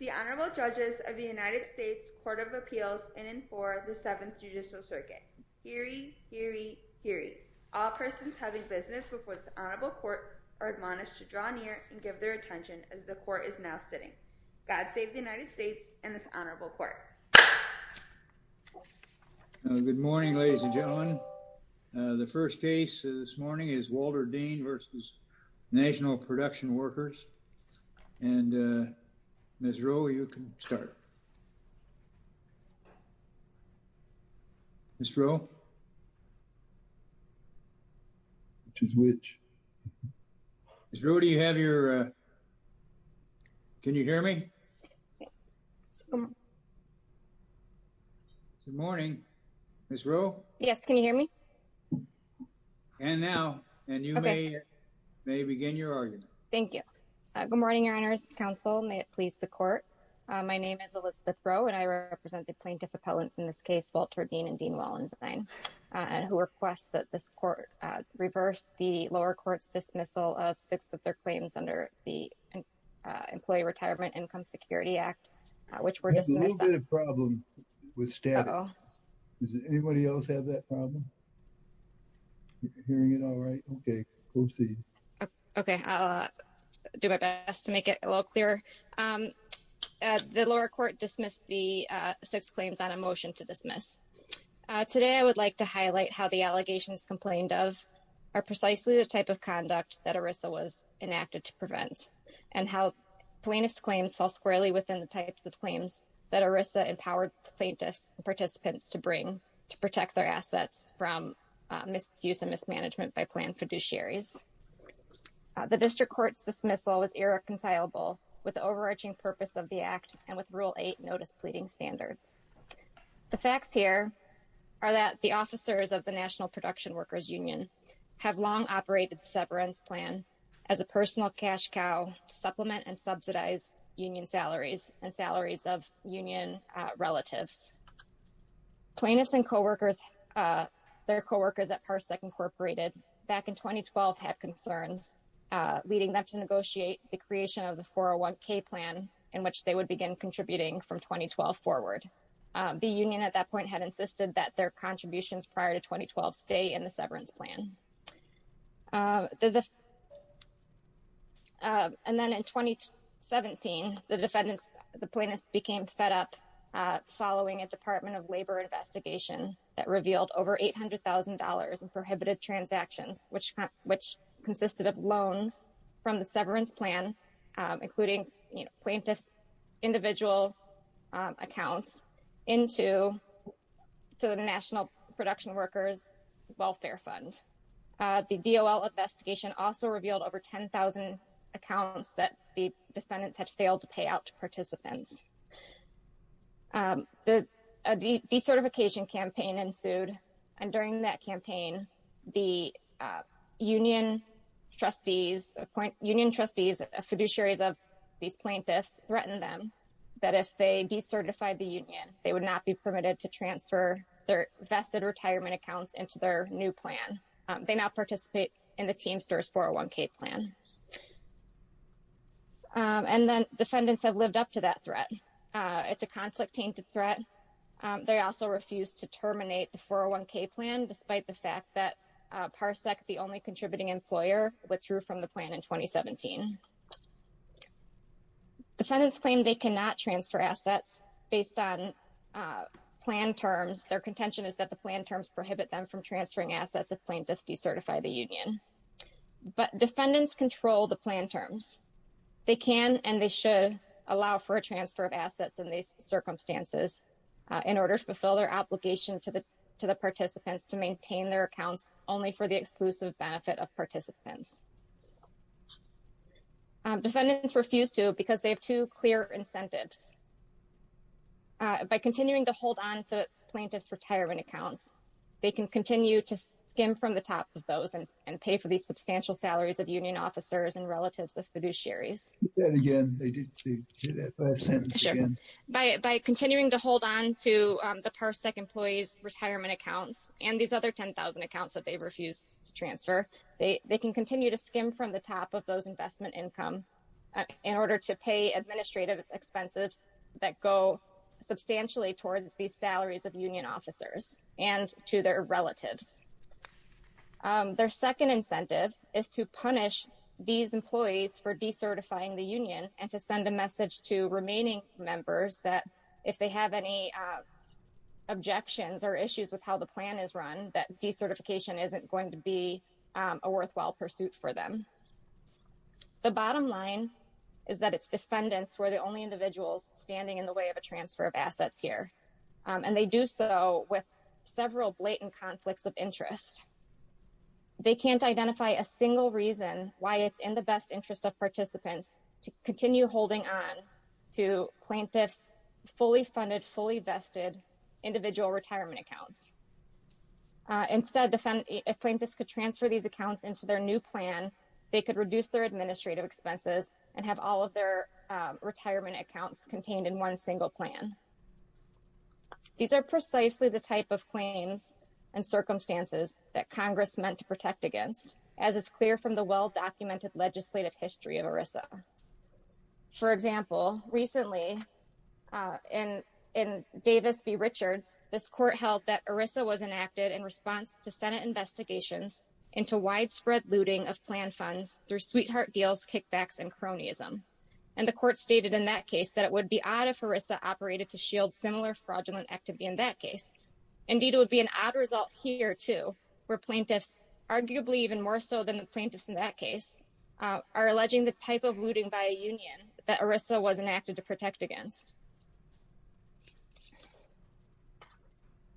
The Honorable Judges of the United States Court of Appeals in and for the 7th Judicial Circuit. Heery, heery, heery. All persons having business before this Honorable Court are admonished to draw near and give their attention as the Court is now sitting. God save the United States and this Honorable Court. Good morning ladies and gentlemen. The first case this morning is Walter Dean v. National Production Workers and Ms. Rowe, you can start. Ms. Rowe? Which is which? Ms. Rowe, do you have your, can you hear me? Good morning. Ms. Rowe? Yes. Can you hear me? And now, and you may begin your argument. Thank you. Good morning, Your Honors. Counsel, may it please the Court. My name is Elizabeth Rowe and I represent the plaintiff appellants in this case, Walter Dean and Dean Wallenstein, and who request that this Court reverse the lower court's dismissal of six of their claims under the Employee Retirement Income Security Act, which were dismissed. There's a little bit of problem with static. Does anybody else have that problem? Hearing it all right, okay, proceed. Okay, I'll do my best to make it a little clearer. The lower court dismissed the six claims on a motion to dismiss. Today, I would like to highlight how the allegations complained of are precisely the type of conduct that ERISA was enacted to prevent, and how plaintiff's claims fall squarely within the rules that ERISA empowered plaintiffs and participants to bring to protect their assets from misuse and mismanagement by planned fiduciaries. The district court's dismissal was irreconcilable with the overarching purpose of the Act and with Rule 8 notice pleading standards. The facts here are that the officers of the National Production Workers Union have long operated the severance plan as a personal cash cow to supplement and subsidize union salaries and salaries of union relatives. Plaintiffs and co-workers, their co-workers at Parsec Incorporated back in 2012 had concerns leading them to negotiate the creation of the 401k plan in which they would begin contributing from 2012 forward. The union at that point had insisted that their contributions prior to 2012 stay in the severance plan. And then in 2017, the defendants, the plaintiffs became fed up following a Department of Labor investigation that revealed over $800,000 in prohibited transactions, which consisted of loans from the severance plan, including plaintiff's individual accounts into the National Production Workers Welfare Fund. The DOL investigation also revealed over 10,000 accounts that the defendants had failed to pay out to participants. The decertification campaign ensued. And during that campaign, the union trustees, union trustees, fiduciaries of these plaintiffs threatened them that if they decertified the union, they would not be permitted to transfer their vested retirement accounts into their new plan. They now participate in the Teamsters 401k plan. And then defendants have lived up to that threat. It's a conflict-tainted threat. They also refused to terminate the 401k plan, despite the fact that Parsec, the only contributing employer, withdrew from the plan in 2017. Defendants claim they cannot transfer assets based on plan terms. Their contention is that the plan terms prohibit them from transferring assets if plaintiffs decertify the union. But defendants control the plan terms. They can and they should allow for a transfer of assets in these circumstances in order to fulfill their obligation to the participants to maintain their accounts only for the exclusive Defendants refuse to because they have two clear incentives. By continuing to hold on to plaintiffs' retirement accounts, they can continue to skim from the top of those and pay for these substantial salaries of union officers and relatives of fiduciaries. By continuing to hold on to the Parsec employees' retirement accounts and these other 10,000 accounts that they refuse to transfer, they can continue to skim from the top of those in order to pay administrative expenses that go substantially towards these salaries of union officers and to their relatives. Their second incentive is to punish these employees for decertifying the union and to send a message to remaining members that if they have any objections or issues with how the plan is run, that decertification isn't going to be a worthwhile pursuit for them. The bottom line is that it's defendants who are the only individuals standing in the way of a transfer of assets here, and they do so with several blatant conflicts of interest. They can't identify a single reason why it's in the best interest of participants to continue holding on to plaintiffs' fully-funded, fully-vested individual retirement accounts. Instead, if plaintiffs could transfer these accounts into their new plan, they could reduce their administrative expenses and have all of their retirement accounts contained in one single plan. These are precisely the type of claims and circumstances that Congress meant to protect against, as is clear from the well-documented legislative history of ERISA. For example, recently in Davis v. Richards, this court held that ERISA was enacted in response to Senate investigations into widespread looting of plan funds through sweetheart deals, kickbacks, and cronyism. And the court stated in that case that it would be odd if ERISA operated to shield similar fraudulent activity in that case. Indeed, it would be an odd result here, too, where plaintiffs, arguably even more so than the plaintiffs in that case, are alleging the type of looting by a union that ERISA was enacted to protect against.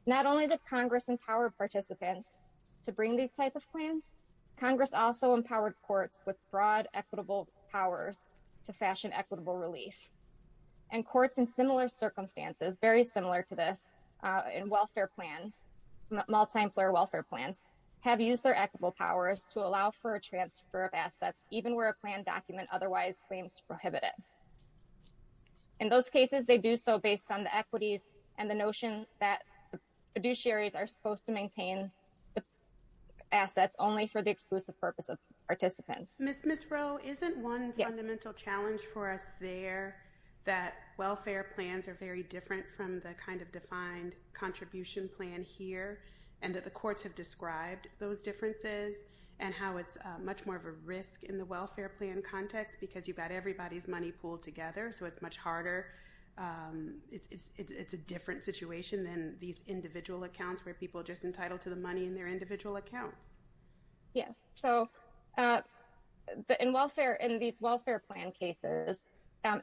Not only did Congress empower participants to bring these type of claims, Congress also empowered courts with broad equitable powers to fashion equitable relief. And courts in similar circumstances, very similar to this, in welfare plans, multi-employer welfare plans, have used their equitable powers to allow for a transfer of assets even where a planned document otherwise claims to prohibit it. In those cases, they do so based on the equities and the notion that the fiduciaries are supposed to maintain the assets only for the exclusive purpose of participants. Ms. Rowe, isn't one fundamental challenge for us there that welfare plans are very different from the kind of defined contribution plan here, and that the courts have described those differences and how it's much more of a risk in the welfare plan context because you've got everybody's money pooled together, so it's much harder. It's a different situation than these individual accounts where people are just entitled to the money in their individual accounts. Yes. So in these welfare plan cases,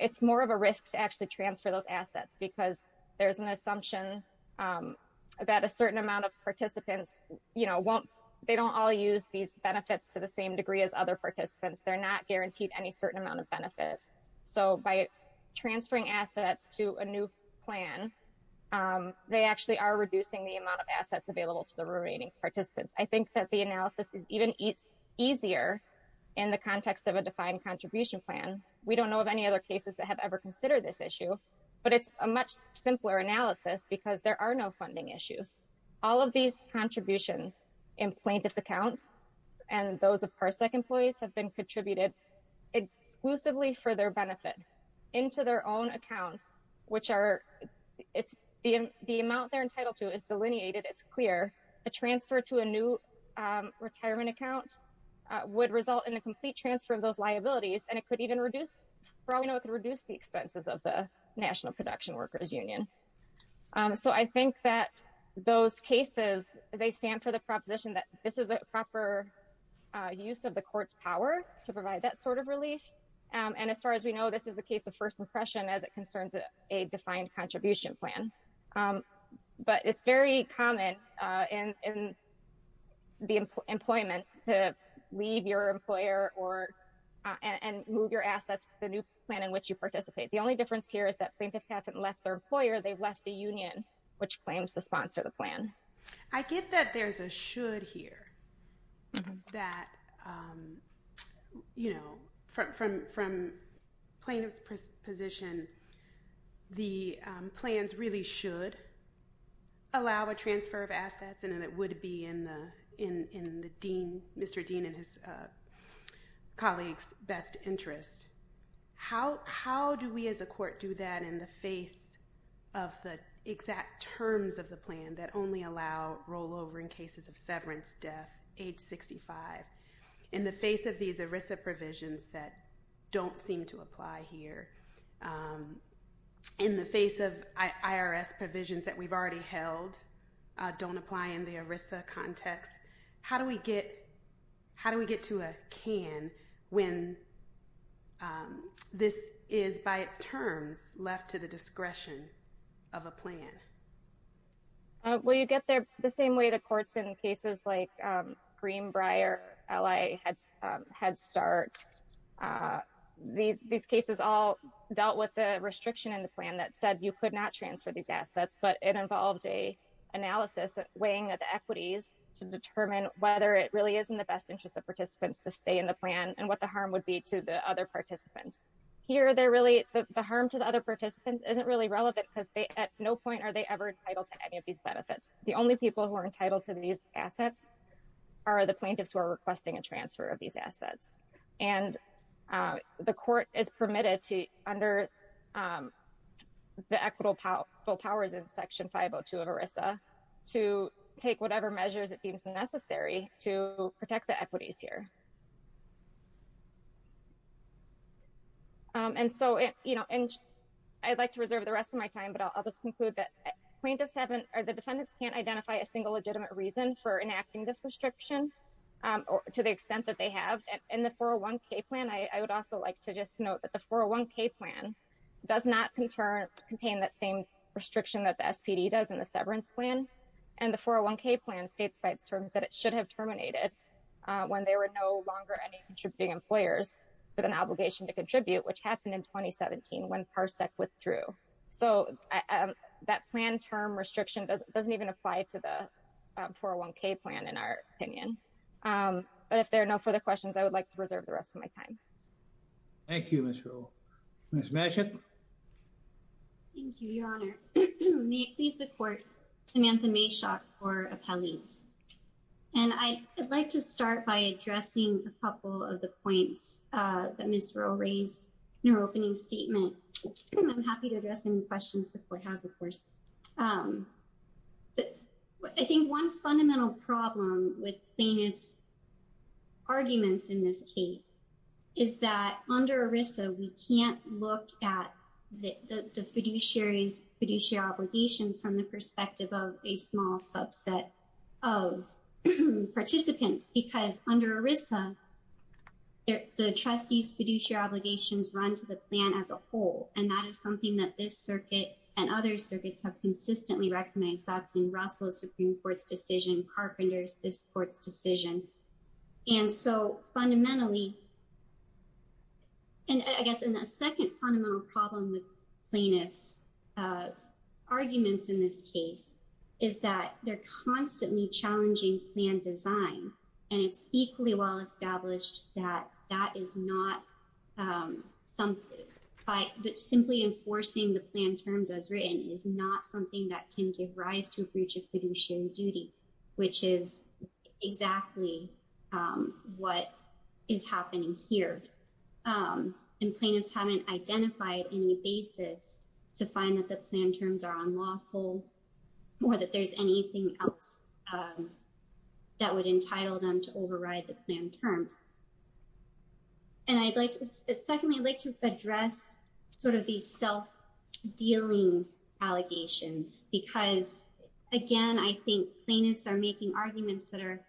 it's more of a risk to actually transfer those assets because there's an assumption that a certain amount of participants, they don't all use these benefits to the same degree as other participants. They're not guaranteed any certain amount of benefits. So by transferring assets to a new plan, they actually are reducing the amount of assets available to the remaining participants. I think that the analysis is even easier in the context of a defined contribution plan. We don't know of any other cases that have ever considered this issue, but it's a much simpler analysis because there are no funding issues. All of these contributions in plaintiff's accounts and those of parsec employees have been contributed exclusively for their benefit into their own accounts, which are, the amount they're entitled to is delineated. It's clear. A transfer to a new retirement account would result in a complete transfer of those liabilities and it could even reduce, for all we know, it could reduce the expenses of the National Production Workers Union. So I think that those cases, they stand for the proposition that this is a proper use of the court's power to provide that sort of relief. And as far as we know, this is a case of first impression as it concerns a defined contribution plan. But it's very common in the employment to leave your employer or, and move your assets to the new plan in which you participate. The only difference here is that plaintiffs haven't left their employer, they've left the union, which claims to sponsor the plan. I get that there's a should here, that, you know, from plaintiff's position, the plans really should allow a transfer of assets and it would be in the, in the dean, Mr. Dean and his colleagues' best interest. How, how do we as a court do that in the face of the exact terms of the plan that only allow rollover in cases of severance death, age 65, in the face of these ERISA provisions that don't seem to apply here, in the face of IRS provisions that we've already held don't apply in the ERISA context? How do we get, how do we get to a can when this is, by its terms, left to the discretion of a plan? Well, you get there the same way the courts in cases like Greenbrier, LA, Head Start, these cases all dealt with the restriction in the plan that said you could not transfer these assets, but it involved a analysis weighing the equities to determine whether it really is in the best interest of participants to stay in the plan and what the harm would be to the other participants. Here they're really, the harm to the other participants isn't really relevant because they at no point are they ever entitled to any of these benefits. The only people who are entitled to these assets are the plaintiffs who are requesting a transfer of these assets. And the court is permitted to, under the equitable powers in Section 502 of ERISA, to take whatever measures it deems necessary to protect the equities here. And so, you know, and I'd like to reserve the rest of my time, but I'll just conclude that plaintiffs haven't, or the defendants can't identify a single legitimate reason for enacting this restriction to the extent that they have. In the 401k plan, I would also like to just note that the 401k plan does not contain that same restriction that the SPD does in the severance plan. And the 401k plan states by its terms that it should have terminated when there were no longer any contributing employers with an obligation to contribute, which happened in 2017 when PARSEC withdrew. So that plan term restriction doesn't even apply to the 401k plan, in our opinion. But if there are no further questions, I would like to reserve the rest of my time. Thank you, Ms. Rowe. Ms. Mashett? Thank you, Your Honor. May it please the Court, Samantha Mashott for appellees. And I'd like to start by addressing a couple of the points that Ms. Rowe raised in her opening statement. And I'm happy to address any questions the Court has, of course. I think one fundamental problem with plaintiff's arguments in this case is that under ERISA, we can't look at the fiduciary's fiduciary obligations from the perspective of a small subset of participants, because under ERISA, the trustee's fiduciary obligations run to the plan as a whole. And that is something that this circuit and other circuits have consistently recognized. That's in Russell's Supreme Court's decision, Carpenter's, this Court's decision. And so fundamentally, and I guess in the second fundamental problem with plaintiff's arguments in this case, is that they're constantly challenging plan design, and it's equally well established that that is not something, that simply enforcing the plan terms as written is not something that can give rise to a breach of fiduciary duty, which is exactly what is happening here. And plaintiffs haven't identified any basis to find that the plan terms are unlawful or that there's anything else that would entitle them to override the plan terms. And I'd like to, secondly, I'd like to address sort of these self-dealing allegations, because again, I think plaintiffs are making arguments that are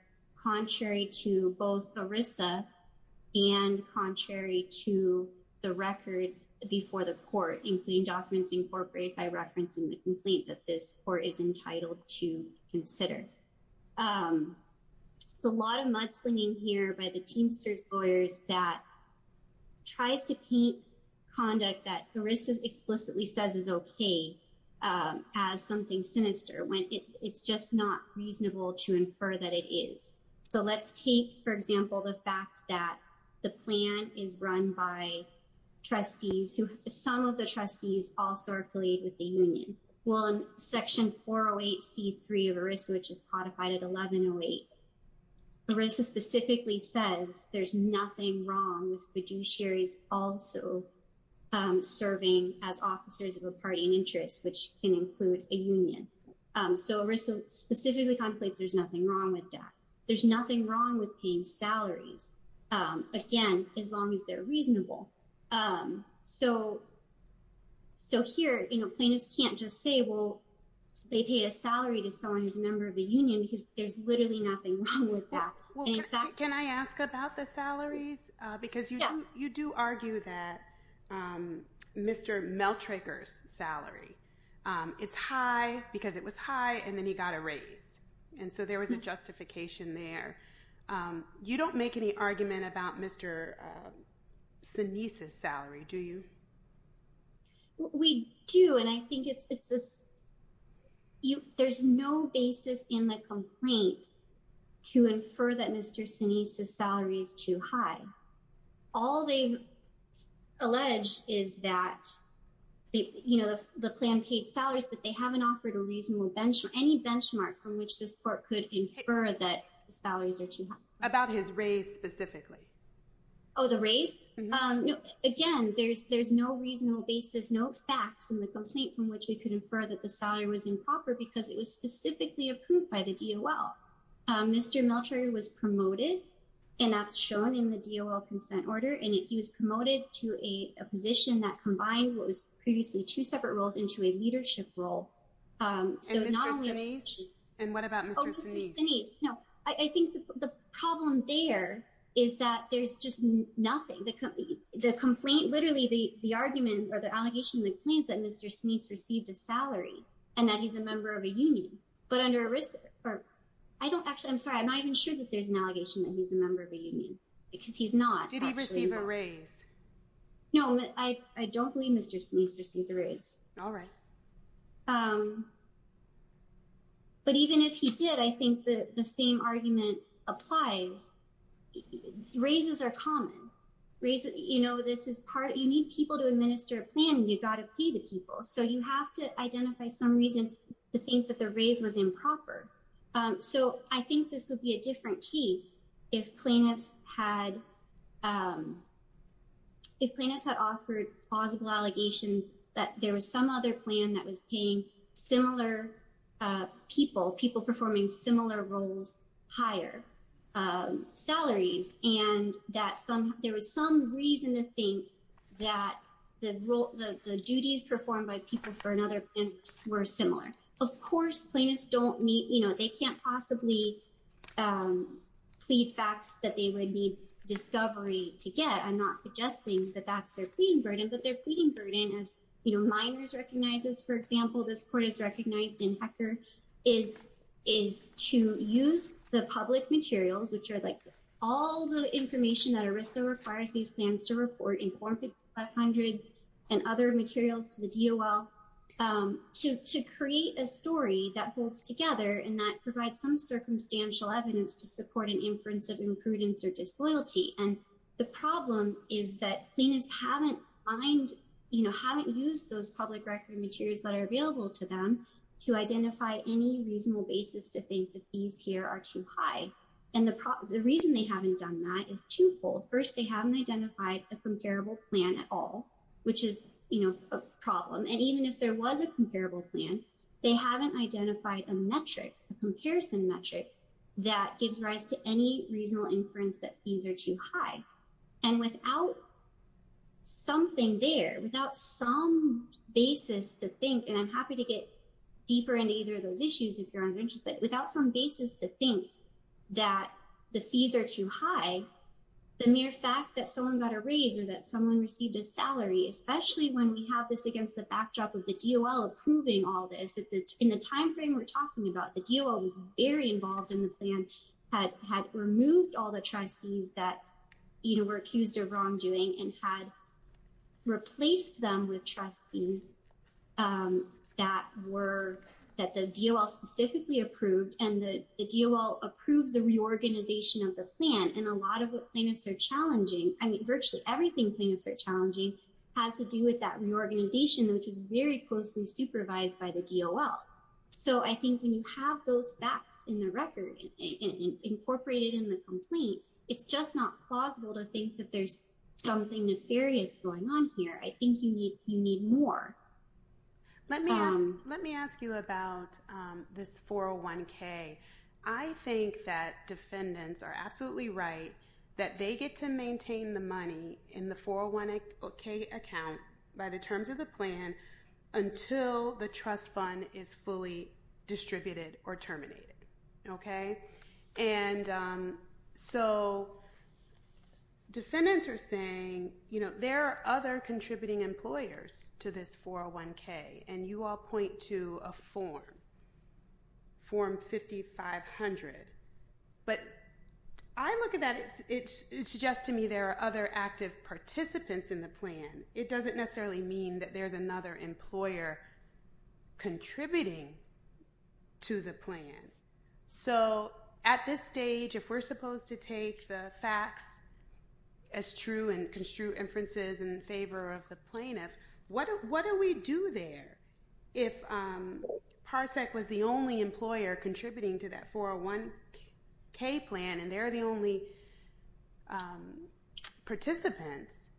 contrary to both ERISA and contrary to the record before the court, including documents incorporated by reference in the And I think that's something that we should be able to consider. There's a lot of mudslinging here by the Teamsters lawyers that tries to paint conduct that ERISA explicitly says is okay as something sinister, when it's just not reasonable to infer that it is. So let's take, for example, the fact that the plan is run by trustees who, some of the trustees also are affiliated with the union. Well, in Section 408C3 of ERISA, which is codified at 1108, ERISA specifically says there's nothing wrong with fiduciaries also serving as officers of a party in interest, which can include a union. So ERISA specifically contemplates there's nothing wrong with that. There's nothing wrong with paying salaries, again, as long as they're reasonable. So here, plaintiffs can't just say, well, they paid a salary to someone who's a member of the union because there's literally nothing wrong with that. Well, can I ask about the salaries? Because you do argue that Mr. Meltraker's salary, it's high because it was high and then he got a raise. And so there was a justification there. You don't make any argument about Mr. Sinise's salary, do you? We do, and I think it's this, there's no basis in the complaint to infer that Mr. Sinise's salary is too high. All they've alleged is that, you know, the plan paid salaries, but they haven't offered a reasonable benchmark, any benchmark from which this court could infer that the salaries are too high. About his raise specifically? Oh, the raise? Again, there's no reasonable basis, no facts in the complaint from which we could infer that the salary was improper because it was specifically approved by the DOL. Mr. Meltraker was promoted, and that's shown in the DOL consent order, and he was promoted to a position that combined what was previously two separate roles into a And Mr. Sinise, and what about Mr. Sinise? I think the problem there is that there's just nothing. The complaint, literally the argument or the allegation in the complaint is that Mr. Sinise received a salary and that he's a member of a union, but under a risk, or I don't actually, I'm sorry, I'm not even sure that there's an allegation that he's a member of a union because he's not. Did he receive a raise? No, I don't believe Mr. Sinise received a raise. All right. But even if he did, I think that the same argument applies, raises are common, raises, you know, this is part, you need people to administer a plan and you've got to pay the people. So you have to identify some reason to think that the raise was improper. So I think this would be a different case if plaintiffs had, if plaintiffs had offered plausible allegations that there was some other plan that was paying similar people, people performing similar roles, higher salaries, and that some, there was some reason to think that the role, the duties performed by people for another plan were similar. Of course, plaintiffs don't need, you know, they can't possibly plead facts that they would need discovery to get. I'm not suggesting that that's their pleading burden, but their pleading burden is, you know, minors recognizes, for example, this court is recognized in HECR is, is to use the public materials, which are like all the information that a RISDO requires these plans to report in form of hundreds and other materials to the DOL to, to create a story that holds together and that provides some circumstantial evidence to support an inference of disloyalty. And the problem is that plaintiffs haven't, you know, haven't used those public record materials that are available to them to identify any reasonable basis to think that these here are too high. And the reason they haven't done that is twofold. First, they haven't identified a comparable plan at all, which is a problem. And even if there was a comparable plan, they haven't identified a metric, a comparison metric that gives rise to any reasonable inference that fees are too high. And without something there, without some basis to think, and I'm happy to get deeper into either of those issues, if you're interested, but without some basis to think that the fees are too high, the mere fact that someone got a raise or that someone received a salary, especially when we have this against the backdrop of the DOL approving all this, in the timeframe we're talking about, the DOL was very involved in the plan, had removed all the trustees that, you know, were accused of wrongdoing and had replaced them with trustees that were, that the DOL specifically approved and the DOL approved the reorganization of the plan. And a lot of what plaintiffs are challenging, I mean, virtually everything plaintiffs are So I think when you have those facts in the record and incorporated in the complaint, it's just not plausible to think that there's something nefarious going on here. I think you need, you need more. Let me ask, let me ask you about this 401k. I think that defendants are absolutely right that they get to maintain the money in the 401k account by the terms of the plan until the trust fund is fully distributed or terminated. Okay? And so defendants are saying, you know, there are other contributing employers to this 401k and you all point to a form, form 5500. But I look at that, it suggests to me there are other active participants in the plan. It doesn't necessarily mean that there's another employer contributing to the plan. So at this stage, if we're supposed to take the facts as true and construe inferences in favor of the plaintiff, what do we do there if Parsec was the only employer contributing to that 401k plan and they're the only participants?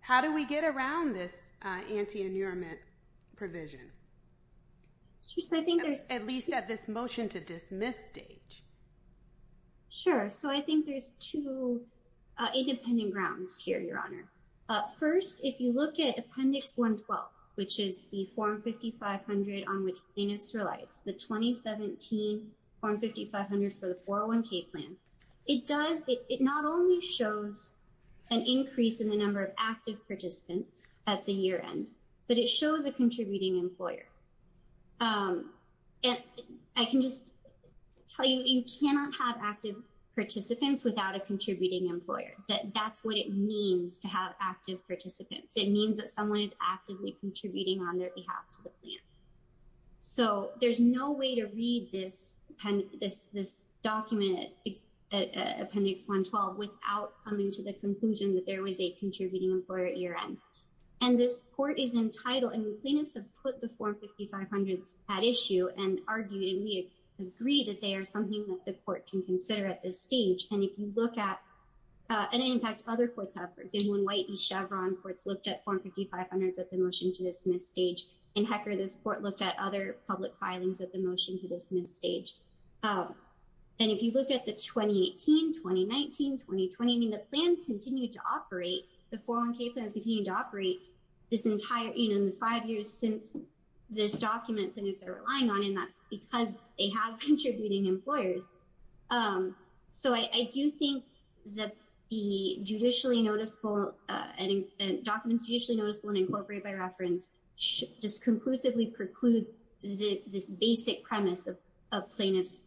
How do we get around this anti-annulment provision? At least at this motion to dismiss stage. Sure. So I think there's two independent grounds here, Your Honor. First, if you look at Appendix 112, which is the form 5500 on which plaintiffs the 2017 form 5500 for the 401k plan. It does, it not only shows an increase in the number of active participants at the year end, but it shows a contributing employer. And I can just tell you, you cannot have active participants without a contributing employer. That's what it means to have active participants. It means that someone is actively contributing on their behalf to the plan. So there's no way to read this document, Appendix 112, without coming to the conclusion that there was a contributing employer at year end. And this court is entitled, and the plaintiffs have put the form 5500s at issue and argued, and we agree that they are something that the court can consider at this stage. And if you look at, and in fact, other courts have, for example, in White and Chevron courts looked at form 5500s at the motion to dismiss stage. In HECR, this court looked at other public filings at the motion to dismiss stage. And if you look at the 2018, 2019, 2020, I mean, the plans continue to operate, the 401k plans continue to operate this entire, you know, in the five years since this document, plaintiffs are relying on, and that's because they have contributing employers. So I do think that the judicially noticeable, and documents judicially noticeable and incorporated by reference, just conclusively preclude this basic premise of plaintiff's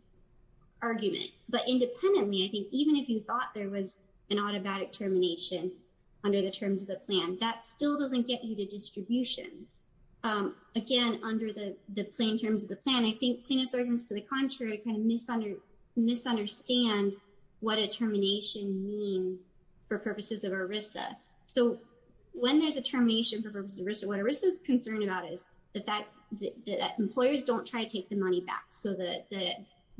argument. But independently, I think even if you thought there was an automatic termination under the terms of the plan, that still doesn't get you to distributions. Again, under the plain terms of the plan, I think plaintiff's arguments to the contrary kind of misunderstand what a termination means for purposes of ERISA. So when there's a termination for purposes of ERISA, what ERISA is concerned about is the fact that employers don't try to take the money back. So the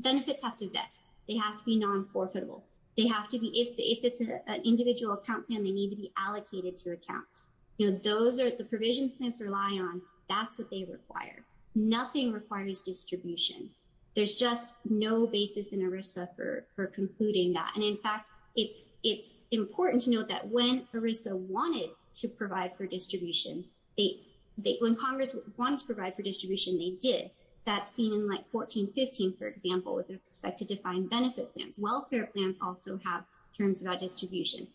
benefits have to vest. They have to be non-forfeitable. They have to be, if it's an individual account plan, they need to be allocated to accounts. You know, those are the provisions clients rely on. That's what they require. Nothing requires distribution. There's just no basis in ERISA for concluding that. And in fact, it's important to note that when ERISA wanted to provide for distribution, when Congress wanted to provide for distribution, they did. That's seen in like 1415, for example, with respect to defined benefit plans. Welfare plans also have terms about distribution.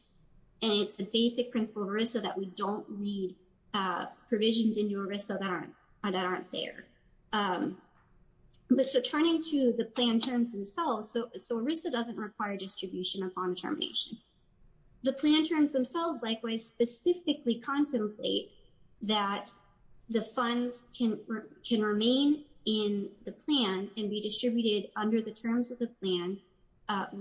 And it's the basic principle of ERISA that we don't read provisions into ERISA that aren't there. So turning to the plan terms themselves, so ERISA doesn't require distribution upon termination. The plan terms themselves, likewise, specifically contemplate that the funds can remain in the plan and be distributed under the terms of the plan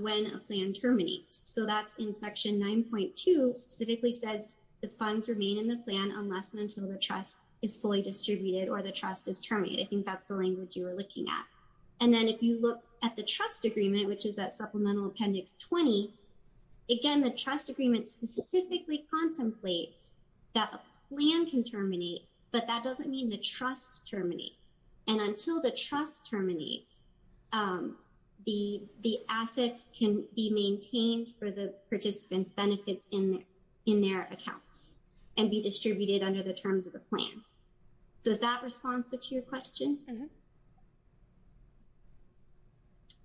when a plan terminates. So that's in section 9.2 specifically says the funds remain in the plan unless and until the trust is fully distributed or the trust is terminated. I think that's the language you were looking at. And then if you look at the trust agreement, which is at Supplemental Appendix 20, again, the trust agreement specifically contemplates that a plan can terminate, but that doesn't mean the trust terminates. And until the trust terminates, the assets can be maintained for the participants' benefits in their accounts and be distributed under the terms of the plan. So is that responsive to your question?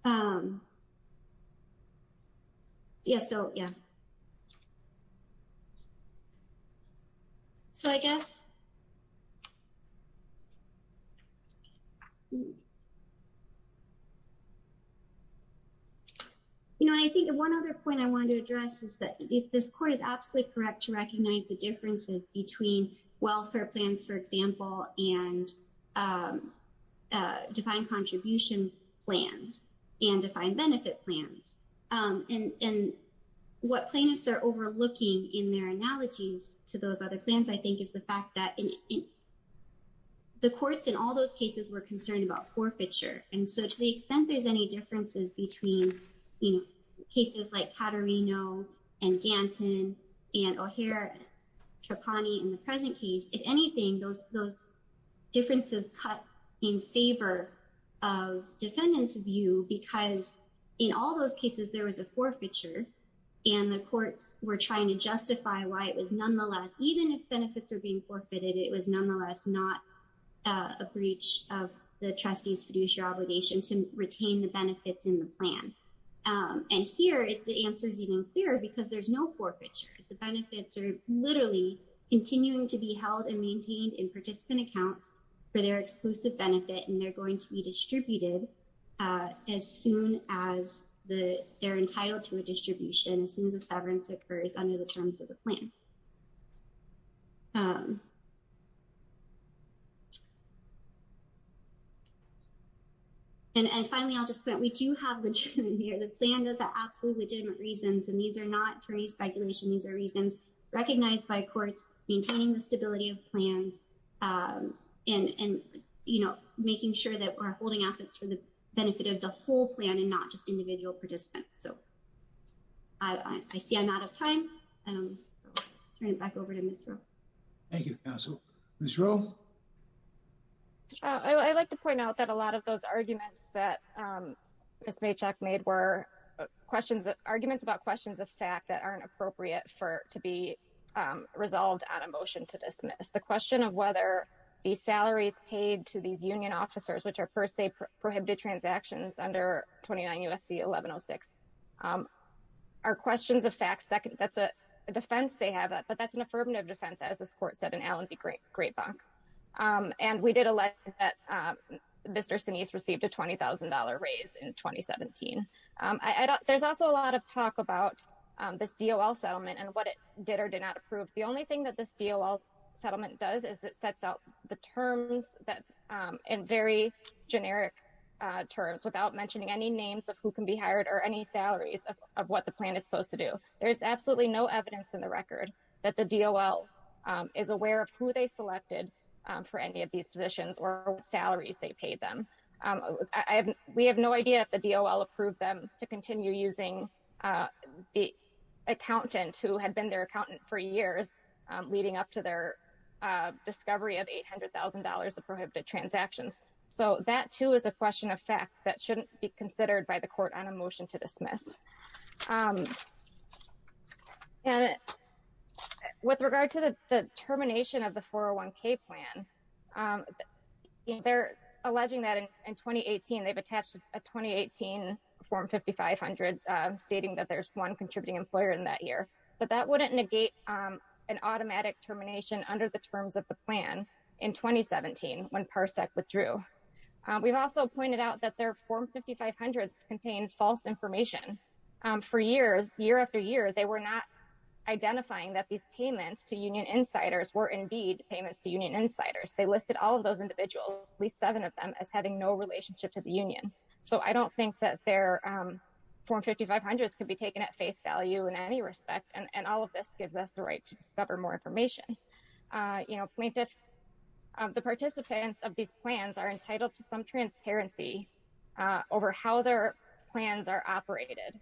Yeah, so, yeah. So I guess, you know, and I think one other point I wanted to address is that this court is absolutely correct to recognize the differences between welfare plans, for example, and defined contribution plans and defined benefit plans. And what plaintiffs are overlooking in their analogies to those other plans, I think, is the fact that the courts in all those cases were concerned about forfeiture. And so to the extent there's any differences between, you know, Caterino and Ganton and O'Hare and Trapani in the present case, if anything, those differences cut in favor of defendants' view because in all those cases there was a forfeiture and the courts were trying to justify why it was nonetheless, even if benefits are being forfeited, it was nonetheless not a breach of the trustee's fiduciary obligation to retain the benefits in the plan. And here the answer is even clearer because there's no forfeiture. The benefits are literally continuing to be held and maintained in participant accounts for their exclusive benefit and they're going to be distributed as soon as they're entitled to a distribution, as soon as a severance occurs under the terms of the plan. And finally, I'll just point out, we do have legitimate here. The plan does have absolutely legitimate reasons and these are not attorney's speculation. These are reasons recognized by courts maintaining the stability of plans and, you know, making sure that we're holding assets for the benefit of the whole plan and not just individual participants. So I see I'm out of time and I'll turn it back over to Ms. Rowe. Thank you, counsel. Ms. Rowe? I'd like to point out that a lot of those arguments that Ms. Maychak made were questions, arguments about questions of fact that aren't appropriate for, to be resolved on a motion to dismiss. The question of whether the salaries paid to these union officers, which are per se prohibited transactions under 29 U.S.C. 1106 are questions of facts. That's a defense they have, but that's an affirmative defense, as this court said in Allen v. Greatbach. And we did elect that Mr. Sinise received a $20,000 raise in 2017. There's also a lot of talk about this DOL settlement and what it did or did not approve. The only thing that this DOL settlement does is it sets out the terms that in very generic terms without mentioning any names of who can be hired or any salaries of what the plan is supposed to do. There's absolutely no evidence in the record that the DOL is aware of who they selected for any of these positions or salaries they paid them. We have no idea if the DOL approved them to continue using the accountant who had been their accountant for years leading up to their discovery of $800,000 of prohibited transactions. So that too is a question of fact that shouldn't be considered by the court on a motion to dismiss. And with regard to the termination of the 401k plan, they're alleging that in 2018 they've attached a 2018 form 5500 stating that there's one contributing employer in that year. But that wouldn't negate an automatic termination under the terms of the plan in 2017 when Parsec withdrew. We've also pointed out that their form 5500 contained false information. For years, year after year, they were not identifying that these payments to union insiders were indeed payments to union insiders. They listed all of those individuals, at least seven of them, as having no relationship to the union. So I don't think that their form 5500s could be taken at face value in any respect. And all of this gives us the right to discover more information. The participants of these plans are entitled to some transparency over how their plans are operated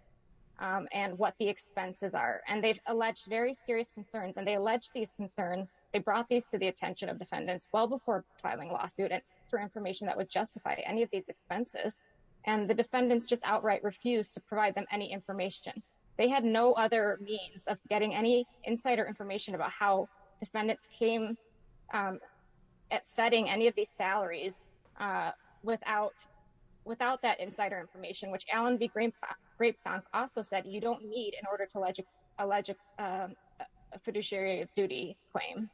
and what the expenses are. And they've alleged very serious concerns. And they allege these concerns. They brought these to the attention of defendants well before filing a lawsuit and for information that would justify any of these expenses. And the defendants just outright refused to provide them any information. They had no other means of getting any insider information about how defendants came at setting any of these salaries without that insider information, which Alan V. Grapefont also said you don't need in order to allege a fiduciary duty claim.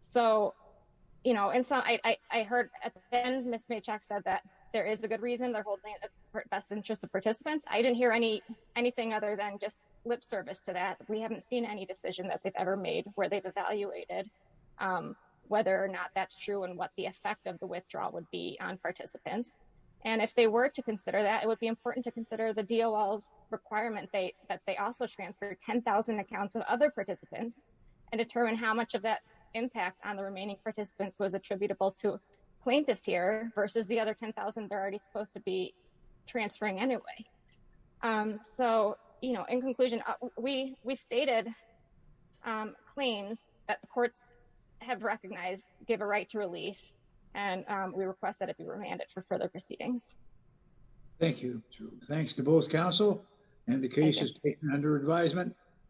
So, you know, and so I heard at the end, Ms. Maychak said that there is a good reason they're holding best interest of participants. I didn't hear anything other than just lip service to that. We haven't seen any decision that they've ever made where they've evaluated whether or not that's true and what the effect of the withdrawal would be on participants. And if they were to consider that, it would be important to consider the DOL's requirement that they also transfer 10,000 accounts of other participants and determine how much of that impact on the remaining participants was attributable to plaintiffs here versus the other 10,000 they're already supposed to be transferring anyway. So, you know, in conclusion, we've stated claims that the courts have recognized give a right to relief and we request that it be remanded for further proceedings. Thank you. Thanks to both counsel and the case is taken under advisement.